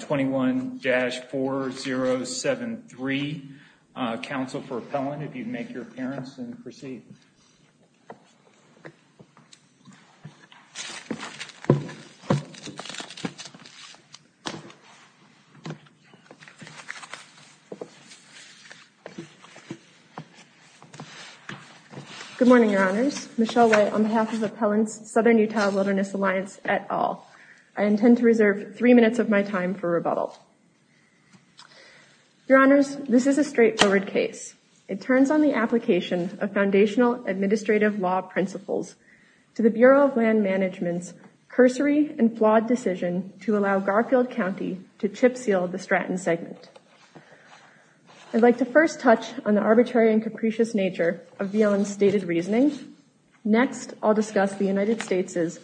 21-4073. Council for Appellant, if you'd make your appearance and proceed. Good morning, your honors. Michelle White on behalf of Appellant's Southern Utah Wilderness Alliance et al. I intend to reserve three minutes of my time for rebuttal. Your honors, this is a straightforward case. It turns on the application of foundational administrative law principles to the Bureau of Land Management's cursory and flawed decision to allow Garfield County to chip seal the Stratton segment. I'd like to first touch on the arbitrary and capricious nature of VLN's stated reasoning. Next, I'll discuss the United States'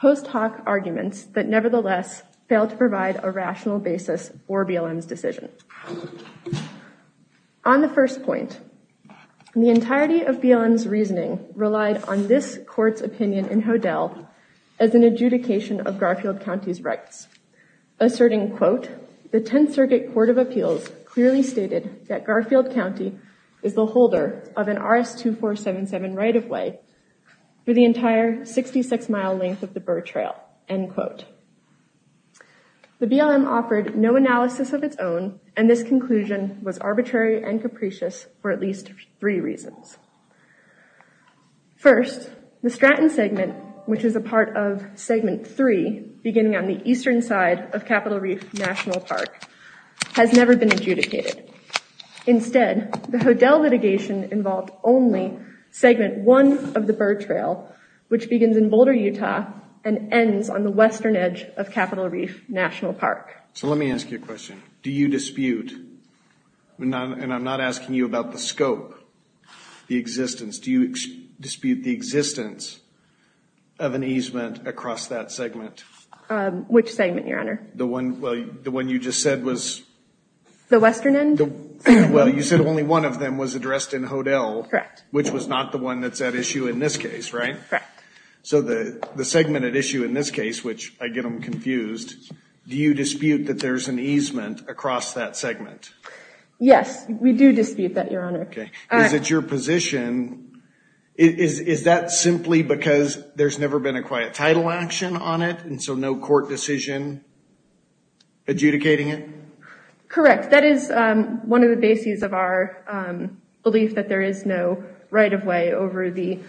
post hoc arguments that nevertheless fail to provide a rational basis for VLN's decision. On the first point, the entirety of VLN's reasoning relied on this court's opinion in Hodel as an adjudication of Garfield County's rights, asserting, quote, the Tenth Circuit Court of Appeals clearly stated that Garfield County is the holder of an RS-2477 right-of-way for the entire 66-mile length of the Burr Trail, end quote. The BLM offered no analysis of its own, and this conclusion was arbitrary and capricious for at least three reasons. First, the Stratton segment, which is a part of Segment 3 beginning on the eastern side of Capitol Reef National Park, has never been adjudicated. Instead, the Hodel litigation involved only Segment 1 of the Burr Trail, which begins in Boulder, Utah, and ends on the western edge of Capitol Reef National Park. So let me ask you a question. Do you dispute, and I'm not asking you about the scope, the existence, do you dispute the existence of an easement across that segment? Which segment, Your Honor? The one you just said was... The western end? Well, you said only one of them was addressed in Hodel. Correct. Which was not the one that's at issue in this case, right? Correct. So the segment at issue in this case, which I get them confused, do you dispute that there's an easement across that segment? Yes, we do dispute that, Your Honor. Okay. Is it your position, is that simply because there's never been a quiet title action on it, and so no court decision adjudicating it? Correct. That is one of the bases of our belief that there is no right-of-way over the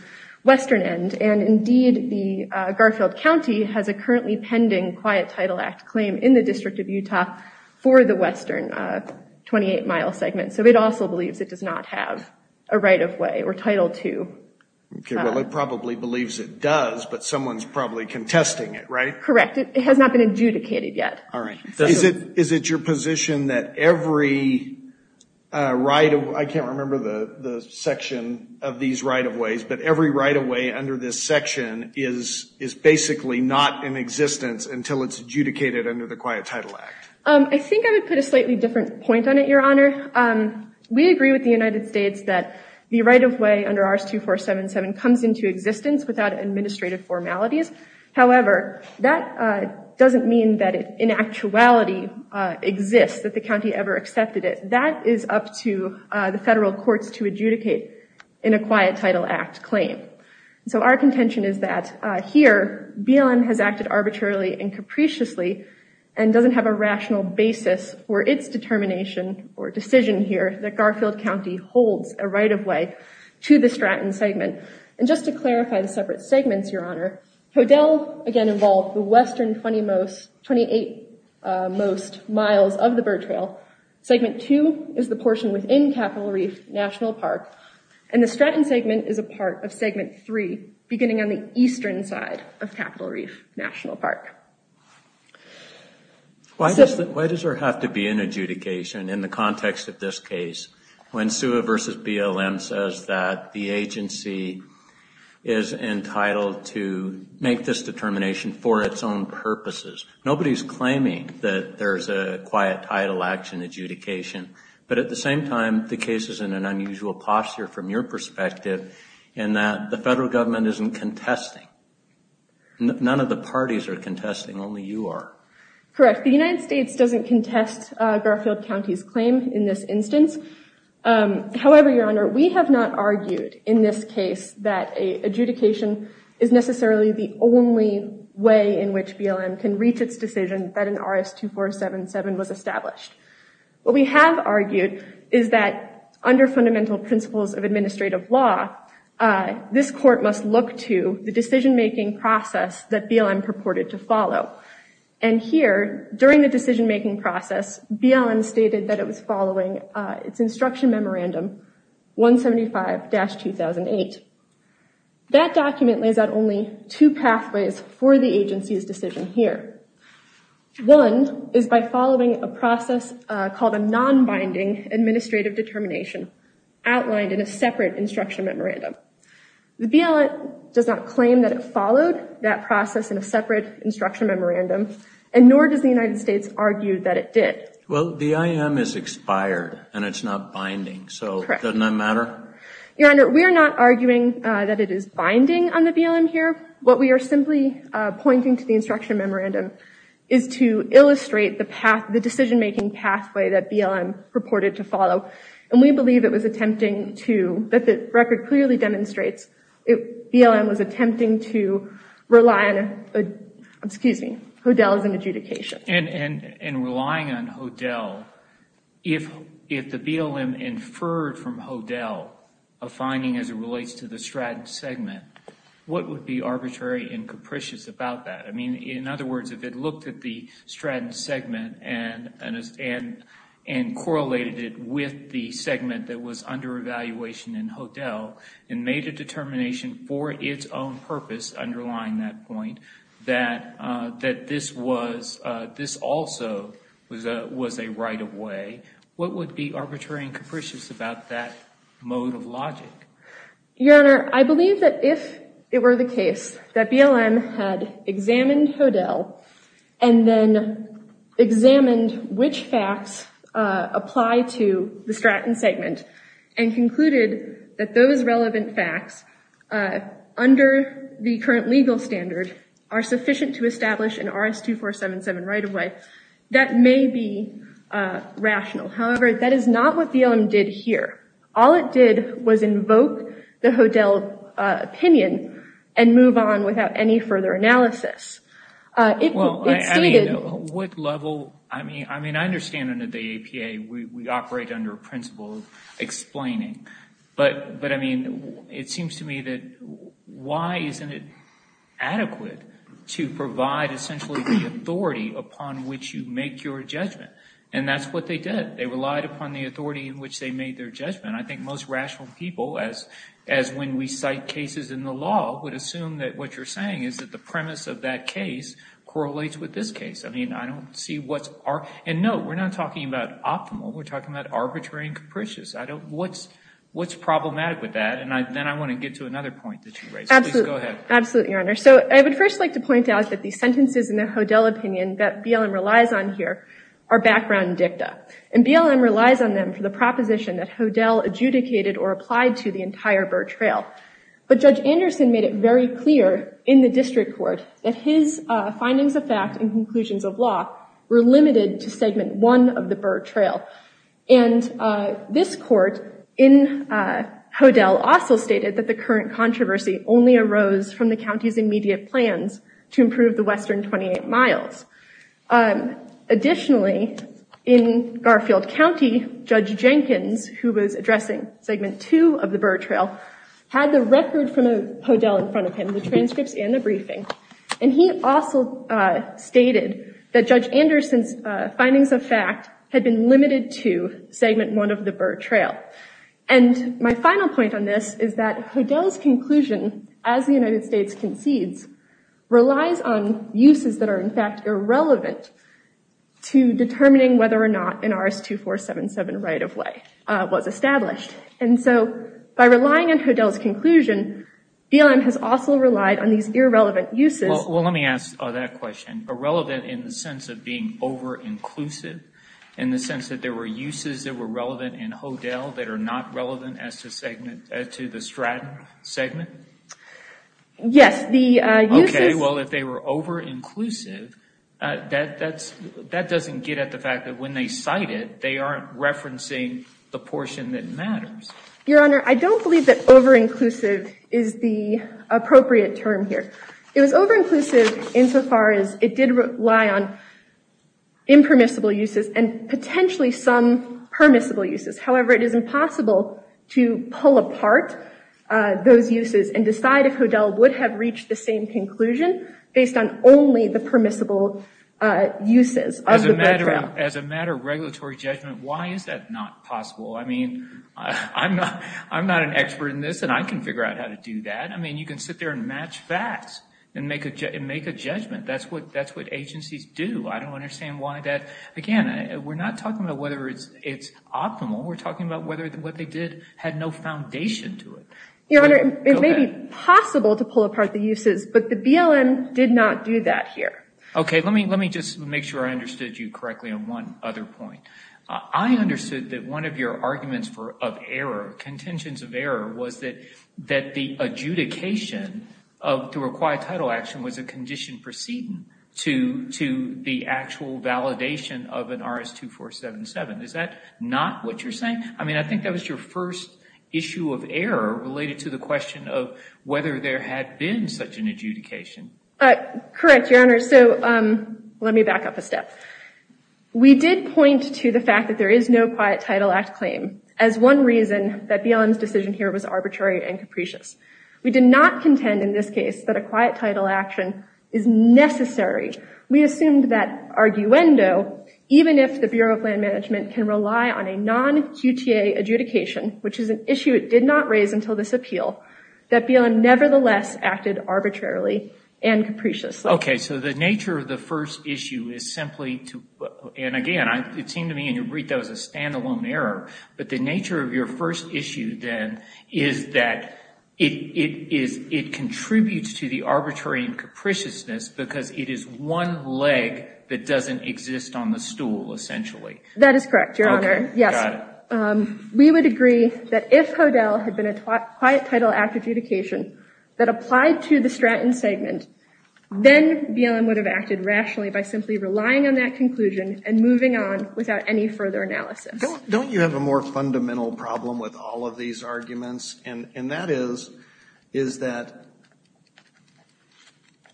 western end. And indeed, the Garfield County has a currently pending Quiet Title Act claim in the District of Utah for the western 28-mile segment. So it also believes it does not have a right-of-way or Title II. Okay. Well, it probably believes it does, but someone's probably contesting it, right? Correct. It has not been adjudicated yet. Is it your position that every right-of-way, I can't remember the section of these right-of-ways, but every right-of-way under this section is basically not in existence until it's adjudicated under the Quiet Title Act? I think I would put a slightly different point on it, Your Honor. We agree with the United States that the right-of-way under RS-2477 comes into existence without administrative formalities. However, that doesn't mean that it in actuality exists, that the county ever accepted it. That is up to the federal courts to adjudicate in a Quiet Title Act claim. So our contention is that here, BLM has acted arbitrarily and capriciously and doesn't have a rational basis for its determination or decision here that Garfield County holds a right-of-way to the Stratton segment. And just to clarify the separate segments, Your Honor, Hodel again involved the western 20-most, 28-most miles of the Bird Trail. Segment 2 is the portion within Capitol Reef National Park. And the Stratton segment is a part of segment 3, beginning on the eastern side of Capitol Reef National Park. Why does there have to be an adjudication in the context of this case? When SUA v. BLM says that the agency is entitled to make this determination for its own purposes, nobody's claiming that there's a Quiet Title Action adjudication. But at the same time, the case is in an unusual posture from your perspective in that the federal government isn't contesting. None of the parties are contesting, only you are. Correct. The United States doesn't contest Garfield County's claim in this instance. However, Your Honor, we have not argued in this case that an adjudication is necessarily the only way in which BLM can reach its decision that an RS-2477 was established. What we have argued is that under fundamental principles of administrative law, this court must look to the decision-making process that BLM purported to follow. And here, during the decision-making process, BLM stated that it was following its Instruction Memorandum 175-2008. That document lays out only two pathways for the agency's decision here. One is by following a process called a non-binding administrative determination outlined in a separate Instruction Memorandum. The BLM does not claim that it followed that process in a separate Instruction Memorandum, and nor does the United States argue that it did. Well, the IM is expired, and it's not binding, so doesn't that matter? Your Honor, we are not arguing that it is binding on the BLM here. What we are simply pointing to the Instruction Memorandum is to illustrate the path, the decision-making pathway that BLM purported to follow. And we believe it was attempting to, that the record clearly demonstrates, BLM was attempting to rely on, excuse me, HODLs and adjudications. And relying on HODL, if the BLM inferred from HODL a finding as it relates to the Stratton segment, what would be arbitrary and capricious about that? I mean, in other words, if it looked at the Stratton segment and correlated it with the segment that was under evaluation in HODL and made a determination for its own purpose underlying that point, that this also was a right-of-way, what would be arbitrary and capricious about that mode of logic? Your Honor, I believe that if it were the case that BLM had examined HODL and then examined which facts apply to the Stratton segment and concluded that those relevant facts, under the current legal standard, are sufficient to establish an RS-2477 right-of-way, that may be rational. However, that is not what BLM did here. All it did was invoke the HODL opinion and move on without any further analysis. Well, I mean, what level, I mean, I understand under the APA we operate under a principle of that why isn't it adequate to provide essentially the authority upon which you make your judgment? And that's what they did. They relied upon the authority in which they made their judgment. I think most rational people, as when we cite cases in the law, would assume that what you're saying is that the premise of that case correlates with this case. I mean, I don't see what's... and no, we're not talking about optimal. We're talking about arbitrary and capricious. What's problematic with that? And then I want to get to another point that you raised. Please go ahead. Absolutely, Your Honor. So I would first like to point out that the sentences in the HODL opinion that BLM relies on here are background dicta. And BLM relies on them for the proposition that HODL adjudicated or applied to the entire Burr Trail. But Judge Anderson made it very clear in the district court that his findings of fact and conclusions of law were limited to segment one of the Burr Trail. And this court in HODL also stated that the current controversy only arose from the county's immediate plans to improve the western 28 miles. Additionally, in Garfield County, Judge Jenkins, who was addressing segment two of the Burr Trail, had the record from HODL in front of him, the transcripts and the briefing. And he also stated that Judge Anderson's findings of fact had been limited to segment one of the Burr Trail. And my final point on this is that HODL's conclusion, as the United States concedes, relies on uses that are in fact irrelevant to determining whether or not an RS-2477 right-of-way was established. And so by relying on HODL's conclusion, BLM has also relied on these irrelevant uses. Well, let me ask that question. Irrelevant in the sense of being over-inclusive, in the sense that there were uses that were relevant in HODL that are not relevant as to the Straton segment? Yes, the uses... Okay, well, if they were over-inclusive, that doesn't get at the fact that when they cite they aren't referencing the portion that matters. Your Honor, I don't believe that over-inclusive is the appropriate term here. It was over-inclusive insofar as it did rely on impermissible uses and potentially some permissible uses. However, it is impossible to pull apart those uses and decide if HODL would have reached the same conclusion based on only the permissible uses of the Burr Trail. As a matter of regulatory judgment, why is that not possible? I mean, I'm not an expert in this and I can figure out how to do that. I mean, you can sit there and match facts and make a judgment. That's what agencies do. I don't understand why that... Again, we're not talking about whether it's optimal. We're talking about whether what they did had no foundation to it. Your Honor, it may be possible to pull apart the uses, but the BLM did not do that here. Okay, let me just make sure I understood you correctly on one other point. I understood that one of your arguments of error, contentions of error, was that the adjudication to require title action was a condition proceeding to the actual validation of an RS-2477. Is that not what you're saying? I mean, I think that was your first issue of error related to the question of whether Correct, Your Honor. So let me back up a step. We did point to the fact that there is no quiet title act claim as one reason that BLM's decision here was arbitrary and capricious. We did not contend in this case that a quiet title action is necessary. We assumed that arguendo, even if the Bureau of Land Management can rely on a non-QTA adjudication, which is an issue it did not raise until this appeal, that BLM nevertheless acted arbitrarily and capriciously. Okay, so the nature of the first issue is simply to, and again, it seemed to me, and you read that as a standalone error, but the nature of your first issue then is that it contributes to the arbitrary and capriciousness because it is one leg that doesn't exist on the stool, essentially. That is correct, Your Honor. Yes. We would agree that if HODL had been a quiet title act adjudication that applied to the BLM, then BLM would have acted rationally by simply relying on that conclusion and moving on without any further analysis. Don't you have a more fundamental problem with all of these arguments, and that is that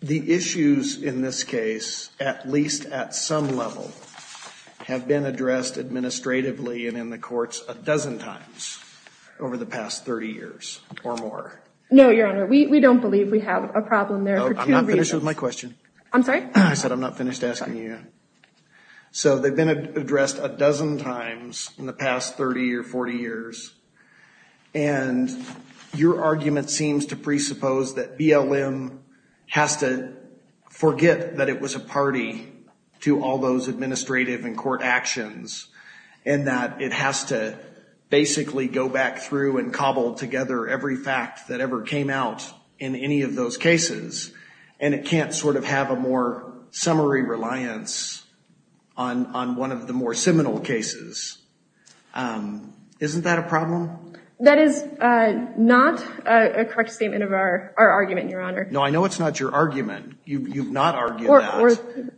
the issues in this case, at least at some level, have been addressed administratively and in the courts a dozen times over the past 30 years or more? No, Your Honor, we don't believe we have a problem there for two reasons. I'm sorry? I said I'm not finished asking you. So they've been addressed a dozen times in the past 30 or 40 years, and your argument seems to presuppose that BLM has to forget that it was a party to all those administrative and court actions, and that it has to basically go back through and cobble together every fact that ever came out in any of those cases, and it can't sort of have a more summary reliance on one of the more seminal cases. Isn't that a problem? That is not a correct statement of our argument, Your Honor. No, I know it's not your argument. You've not argued that,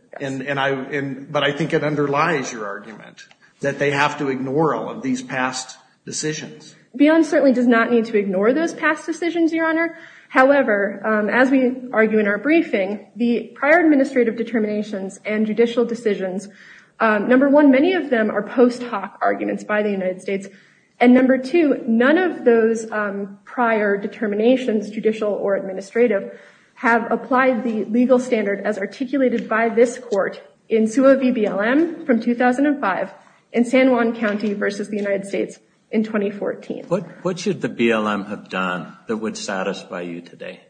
but I think it underlies your argument that they have to ignore all of these past decisions. BLM certainly does not need to ignore those past decisions, Your Honor. However, as we argue in our briefing, the prior administrative determinations and judicial decisions, number one, many of them are post hoc arguments by the United States. And number two, none of those prior determinations, judicial or administrative, have applied the legal standard as articulated by this court in SUA v. BLM from 2005 in San Juan County v. the United States in 2014. What should the BLM have done that would satisfy you today?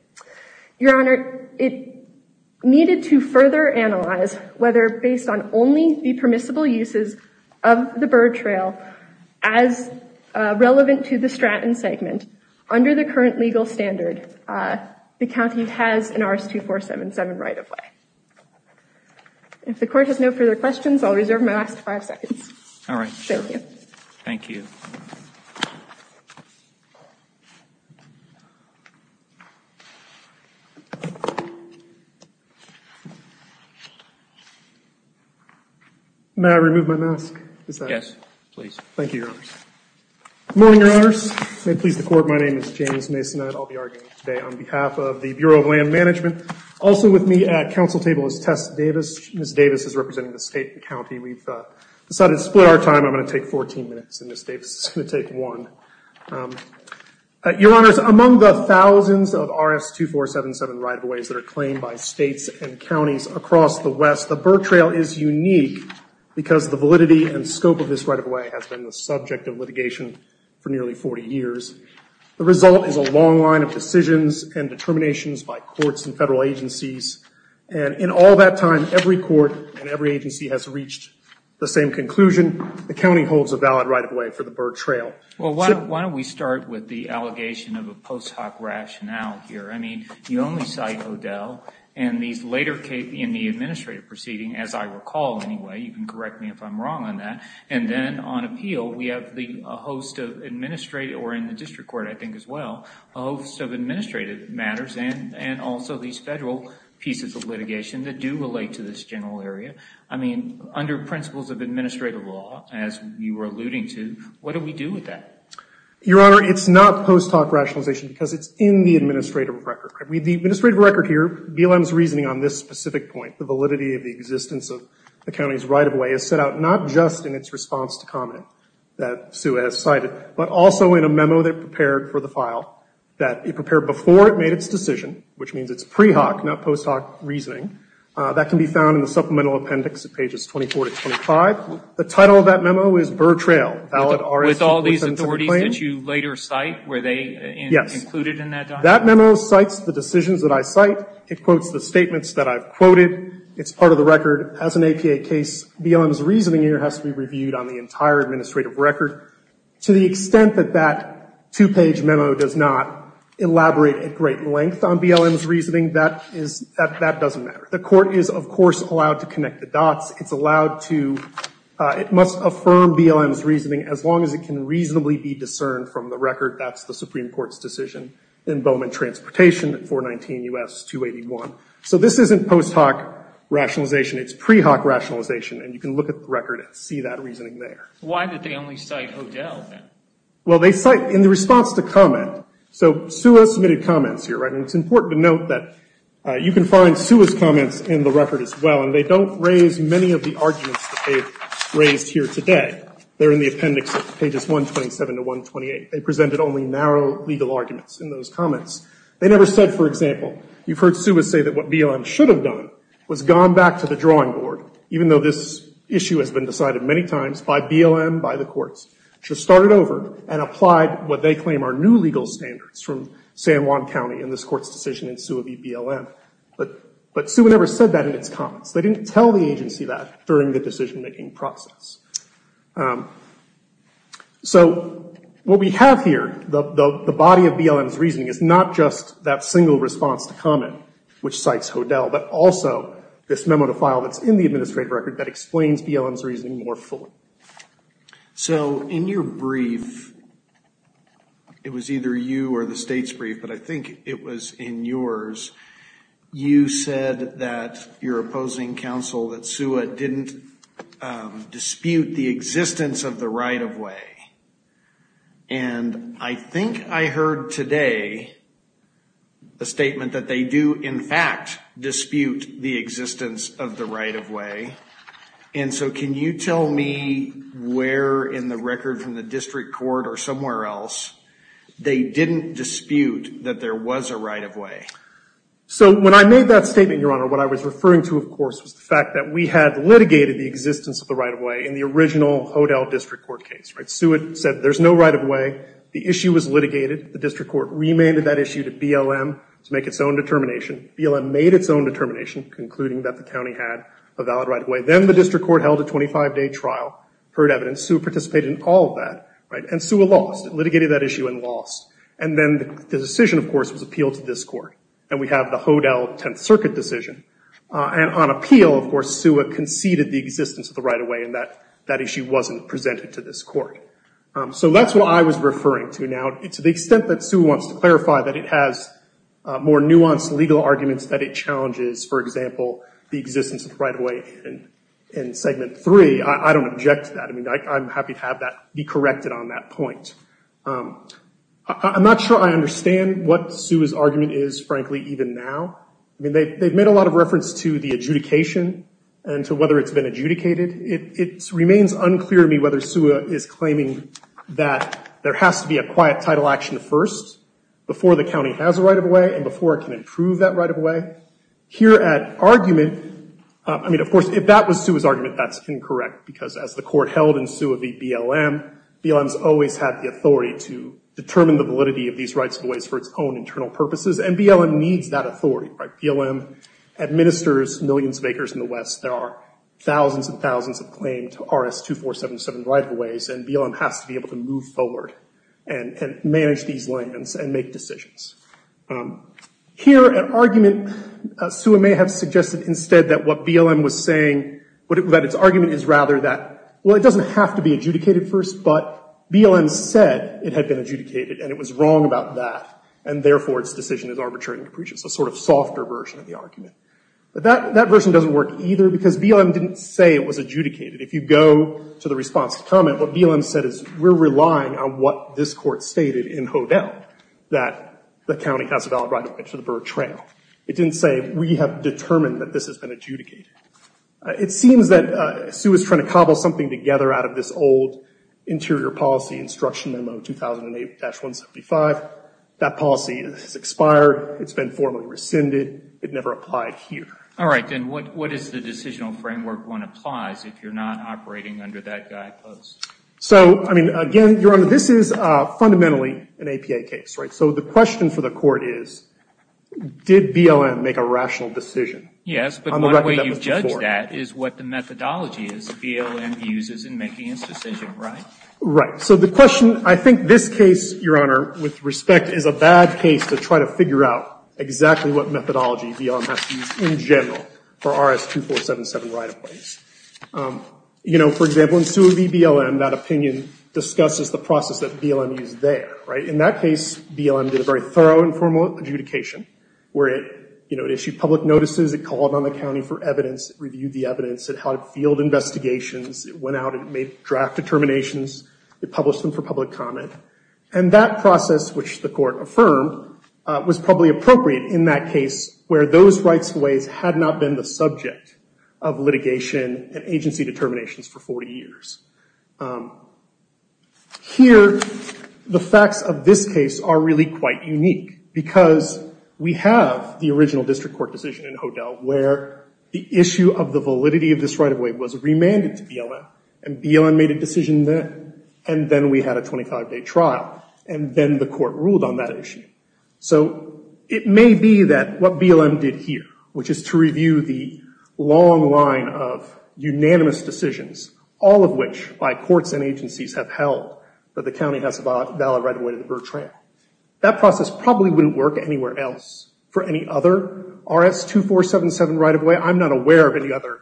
Your Honor, it needed to further analyze whether, based on only the permissible uses of the Byrd Trail as relevant to the Stratton segment, under the current legal standard, the county has an RS-2477 right of way. If the court has no further questions, I'll reserve my last five seconds. All right. Thank you. May I remove my mask? Yes, please. Thank you, Your Honors. Good morning, Your Honors. May it please the Court, my name is James Mason. I'll be arguing today on behalf of the Bureau of Land Management. Also with me at council table is Tess Davis. Ms. Davis is representing the state and county. We've decided to split our time. I'm going to take 14 minutes and Ms. Davis is going to take one. Your Honors, among the thousands of RS-2477 right of ways that are claimed by states and counties across the West, the Byrd Trail is unique because the validity and scope of this right of way has been the subject of litigation for nearly 40 years. The result is a long line of decisions and determinations by courts and federal agencies. In all that time, every court and every agency has reached the same conclusion. The county holds a valid right of way for the Byrd Trail. Well, why don't we start with the allegation of a post hoc rationale here? I mean, you only cite O'Dell and these later in the administrative proceeding, as I recall anyway. You can correct me if I'm wrong on that. And then on appeal, we have the host of administrative or in the district court, I think pieces of litigation that do relate to this general area. I mean, under principles of administrative law, as you were alluding to, what do we do with that? Your Honor, it's not post hoc rationalization because it's in the administrative record. The administrative record here, BLM's reasoning on this specific point, the validity of the existence of the county's right of way is set out not just in its response to comment that Sue has cited, but also in a memo that prepared for the file that it prepared before it made its decision, which means it's pre hoc, not post hoc reasoning. That can be found in the supplemental appendix at pages 24 to 25. The title of that memo is Byrd Trail, Valid R.S. With all these authorities that you later cite, were they included in that document? Yes. That memo cites the decisions that I cite. It quotes the statements that I've quoted. It's part of the record. As an APA case, BLM's reasoning here has to be reviewed on the entire administrative record. To the extent that that two-page memo does not elaborate at great length on BLM's reasoning, that doesn't matter. The court is, of course, allowed to connect the dots. It's allowed to, it must affirm BLM's reasoning as long as it can reasonably be discerned from the record. That's the Supreme Court's decision in Bowman Transportation, 419 U.S. 281. So this isn't post hoc rationalization. It's pre hoc rationalization. And you can look at the record and see that reasoning there. Why did they only cite Hodel then? Well, they cite in the response to comment. So Suha submitted comments here, right? And it's important to note that you can find Suha's comments in the record as well. And they don't raise many of the arguments that they've raised here today. They're in the appendix at pages 127 to 128. They presented only narrow legal arguments in those comments. They never said, for example, you've heard Suha say that what BLM should have done was gone back to the drawing board, even though this issue has been decided many times by BLM, by the courts, should have started over and applied what they claim are new legal standards from San Juan County in this court's decision in Suha v. BLM. But Suha never said that in its comments. They didn't tell the agency that during the decision-making process. So what we have here, the body of BLM's reasoning, is not just that single response to comment, which cites Hodel, but also this memo to file that's in the administrative record that explains BLM's reasoning more fully. So in your brief, it was either you or the state's brief, but I think it was in yours, you said that your opposing counsel, that Suha didn't dispute the existence of the right-of-way. And I think I heard today a statement that they do, in fact, dispute the existence of the right-of-way. And so can you tell me where in the record from the district court or somewhere else they didn't dispute that there was a right-of-way? So when I made that statement, Your Honor, what I was referring to, of course, was the fact that we had litigated the existence of the right-of-way in the original Hodel district court case. Suha said there's no right-of-way. The issue was litigated. The district court remanded that issue to BLM to make its own determination. BLM made its own determination, concluding that the county had a valid right-of-way. Then the district court held a 25-day trial, heard evidence. Suha participated in all of that, and Suha lost. It litigated that issue and lost. And then the decision, of course, was appealed to this court. And we have the Hodel Tenth Circuit decision. And on appeal, of course, Suha conceded the existence of the right-of-way, and that issue wasn't presented to this court. So that's what I was referring to. To the extent that Suha wants to clarify that it has more nuanced legal arguments that it challenges, for example, the existence of the right-of-way in segment three, I don't object to that. I mean, I'm happy to have that be corrected on that point. I'm not sure I understand what Suha's argument is, frankly, even now. I mean, they've made a lot of reference to the adjudication and to whether it's been adjudicated. It remains unclear to me whether Suha is claiming that there has to be a quiet title action first, before the county has a right-of-way, and before it can improve that right-of-way. Here at argument, I mean, of course, if that was Suha's argument, that's incorrect. Because as the court held in Suha v. BLM, BLM's always had the authority to determine the validity of these rights-of-ways for its own internal purposes. And BLM needs that authority. BLM administers millions of acres in the West. There are thousands and thousands of claimed RS-2477 right-of-ways. And BLM has to be able to move forward and manage these landings and make decisions. Here at argument, Suha may have suggested instead that what BLM was saying, that its argument is rather that, well, it doesn't have to be adjudicated first. But BLM said it had been adjudicated. And it was wrong about that. And therefore, its decision is arbitrary and capricious, a sort of softer version of the argument. But that version doesn't work either. Because BLM didn't say it was adjudicated. If you go to the response to comment, what BLM said is, we're relying on what this court stated in Hodel, that the county has a valid right-of-way to the Burr Trail. It didn't say, we have determined that this has been adjudicated. It seems that Suha is trying to cobble something together out of this old interior policy instruction memo 2008-175. That policy has expired. It's been formally rescinded. It never applied here. All right. Then what is the decisional framework one applies if you're not operating under that guidepost? So, I mean, again, Your Honor, this is fundamentally an APA case, right? So the question for the court is, did BLM make a rational decision? Yes, but one way you've judged that is what the methodology is BLM uses in making its decision, right? Right. So the question, I think this case, Your Honor, with respect, is a bad case to try to figure out exactly what methodology BLM has to use in general for RS-2477 right-of-ways. You know, for example, in Suha v. BLM, that opinion discusses the process that BLM used there, right? In that case, BLM did a very thorough and formal adjudication where it issued public notices. It called on the county for evidence, reviewed the evidence. It held field investigations. It went out and made draft determinations. It published them for public comment. And that process, which the court affirmed, was probably appropriate in that case where those right-of-ways had not been the subject of litigation and agency determinations for 40 years. Here, the facts of this case are really quite unique because we have the original district court decision in Hodel where the issue of the validity of this right-of-way was remanded to BLM. And BLM made a decision there. And then we had a 25-day trial. And then the court ruled on that issue. So it may be that what BLM did here, which is to review the long line of unanimous decisions, all of which by courts and agencies have held that the county has a valid right-of-way to the Burr Trail, that process probably wouldn't work anywhere else for any other RS-2477 right-of-way. I'm not aware of any other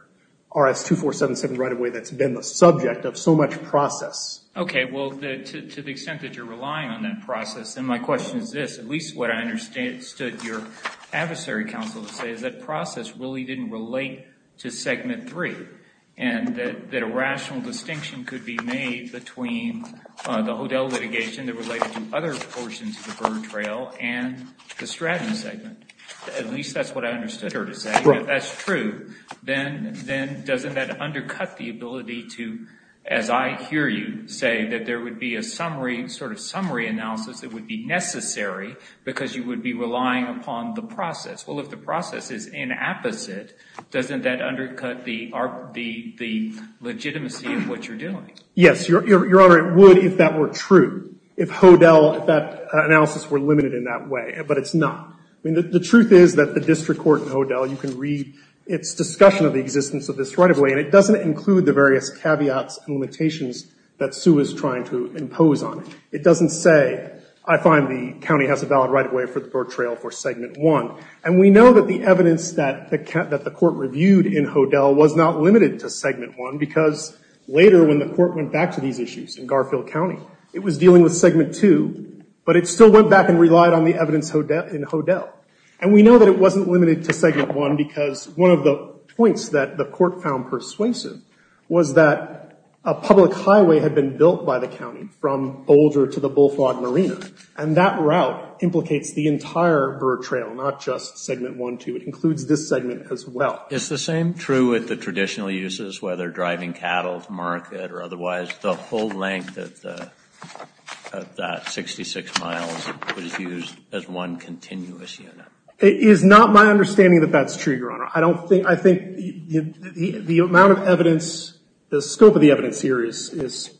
RS-2477 right-of-way that's been the subject of so much process. OK. Well, to the extent that you're relying on that process, then my question is this. At least what I understood your adversary counsel to say is that process really didn't relate to Segment 3. And that a rational distinction could be made between the Hodel litigation that related to other portions of the Burr Trail and the Stratton segment. At least that's what I understood her to say. If that's true, then doesn't that undercut the ability to, as I hear you say, that there would be a summary, sort of summary analysis that would be necessary because you would be relying upon the process? Well, if the process is inapposite, doesn't that undercut the legitimacy of what you're doing? Yes, Your Honor. It would if that were true, if Hodel, that analysis were limited in that way. But it's not. The truth is that the district court in Hodel, you can read its discussion of the existence of this right of way. And it doesn't include the various caveats and limitations that Sue is trying to impose on it. It doesn't say, I find the county has a valid right of way for the Burr Trail for Segment 1. And we know that the evidence that the court reviewed in Hodel was not limited to Segment 1 because later when the court went back to these issues in Garfield County, it was dealing with Segment 2, but it still went back and relied on the evidence in Hodel. And we know that it wasn't limited to Segment 1 because one of the points that the court found persuasive was that a public highway had been built by the county from Boulder to the Bullfrog Marina. And that route implicates the entire Burr Trail, not just Segment 1, 2. It includes this segment as well. Is the same true with the traditional uses, whether driving cattle to market or otherwise, the whole length of that 66 miles was used as one continuous unit? It is not my understanding that that's true, Your Honor. I don't think, I think the amount of evidence, the scope of the evidence here is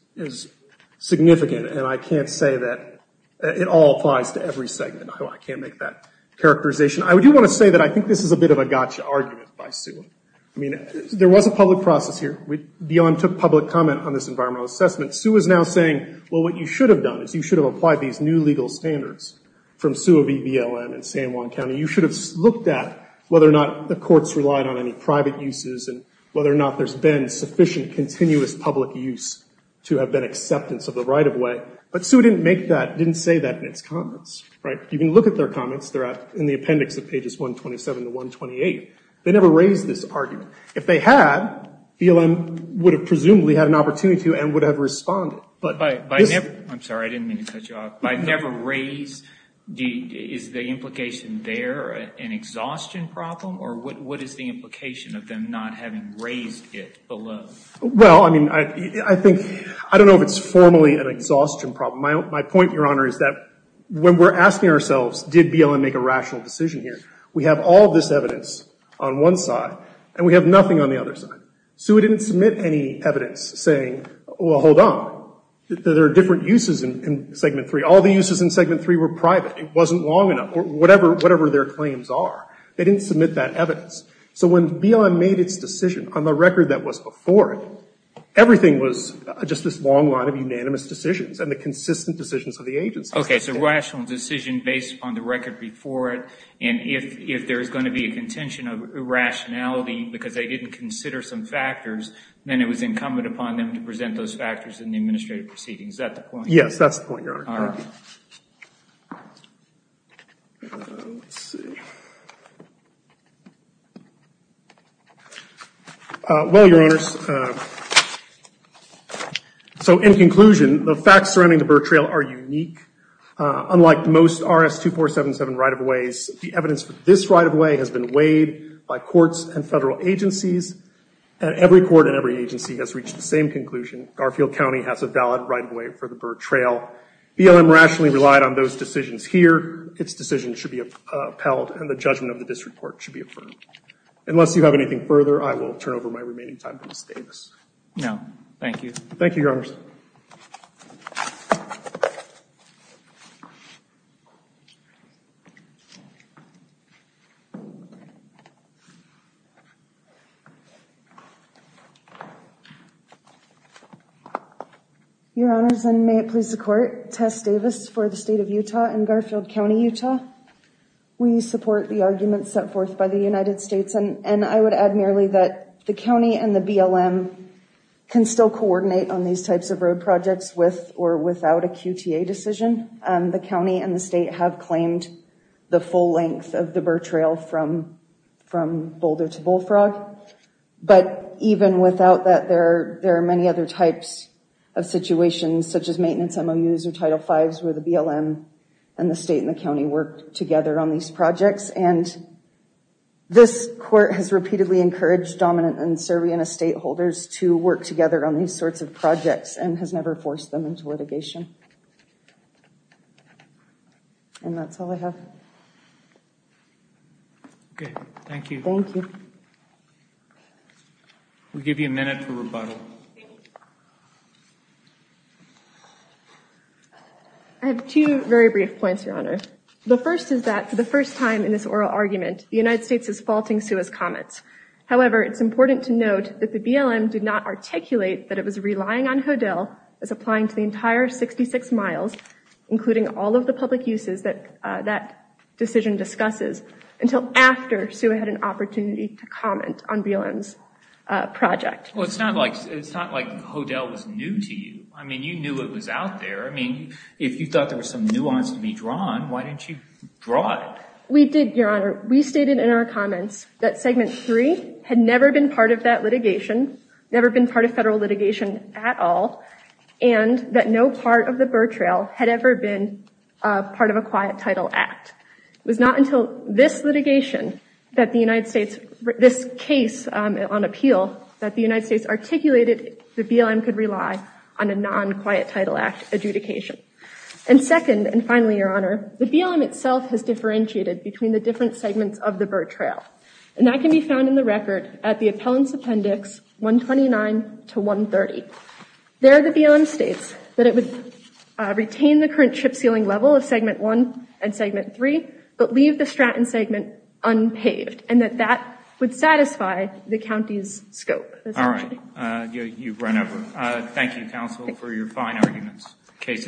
significant. And I can't say that it all applies to every segment. I can't make that characterization. I do want to say that I think this is a bit of a gotcha argument by Sue. I mean, there was a public process here. BLM took public comment on this environmental assessment. Sue is now saying, well, what you should have done is you should have applied these new legal standards from Sue v. BLM in San Juan County. You should have looked at whether or not the courts relied on any private uses and whether or not there's been sufficient continuous public use to have been acceptance of the right-of-way. But Sue didn't make that, didn't say that in its comments, right? You can look at their comments. They're in the appendix of pages 127 to 128. They never raised this argument. If they had, BLM would have presumably had an opportunity to and would have responded. But this- By never, I'm sorry, I didn't mean to cut you off. By never raised, is the implication there an exhaustion problem? Or what is the implication of them not having raised it below? Well, I mean, I think, I don't know if it's formally an exhaustion problem. My point, Your Honor, is that when we're asking ourselves, did BLM make a rational decision here? We have all this evidence on one side. And we have nothing on the other side. Sue didn't submit any evidence saying, well, hold on. There are different uses in Segment 3. All the uses in Segment 3 were private. It wasn't long enough, or whatever their claims are. They didn't submit that evidence. So when BLM made its decision on the record that was before it, everything was just this long line of unanimous decisions and the consistent decisions of the agency. Okay. So rational decision based upon the record before it. And if there is going to be a contention of irrationality because they didn't consider some factors, then it was incumbent upon them to present those factors in the administrative proceedings. Is that the point? Yes, that's the point, Your Honor. All right. Let's see. Well, Your Honors, so in conclusion, the facts surrounding the Burr Trail are unique. Unlike most RS-2477 right-of-ways, the evidence for this right-of-way has been weighed by courts and federal agencies. Every court and every agency has reached the same conclusion. Garfield County has a valid right-of-way for the Burr Trail. BLM rationally relied on those decisions here. Its decision should be upheld, and the judgment of the district court should be affirmed. Unless you have anything further, I will turn over my remaining time to Ms. Davis. No. Thank you. Thank you, Your Honors. Thank you. Your Honors, and may it please the Court, Tess Davis for the State of Utah and Garfield County, Utah. We support the arguments set forth by the United States, and I would add merely that the county and the BLM can still coordinate on these types of road decision. The county and the state have claimed the full length of the Burr Trail from Boulder to Bullfrog. But even without that, there are many other types of situations, such as maintenance MOUs or Title Vs, where the BLM and the state and the county work together on these projects. And this court has repeatedly encouraged dominant and survey and estate holders to work together on these sorts of projects and has never forced them into litigation. And that's all I have. Okay. Thank you. Thank you. We'll give you a minute for rebuttal. I have two very brief points, Your Honor. The first is that for the first time in this oral argument, the United States is faulting Suha's comments. However, it's important to note that the BLM did not articulate that it was including all of the public uses that that decision discusses until after Suha had an opportunity to comment on BLM's project. Well, it's not like Hodel was new to you. I mean, you knew it was out there. I mean, if you thought there was some nuance to be drawn, why didn't you draw it? We did, Your Honor. We stated in our comments that Segment 3 had never been part of that litigation, never been part of federal litigation at all, and that no part of the Burr Trail had ever been part of a Quiet Title Act. It was not until this litigation that the United States, this case on appeal, that the United States articulated the BLM could rely on a non-Quiet Title Act adjudication. And second, and finally, Your Honor, the BLM itself has differentiated between the different segments of the Burr Trail. And that can be found in the record at the Appellant's Appendix 129 to 130. There, the BLM states that it would retain the current chip sealing level of Segment 1 and Segment 3, but leave the Stratton segment unpaved, and that that would satisfy the county's scope. All right. You've run over. Thank you, counsel, for your fine arguments. Case is submitted.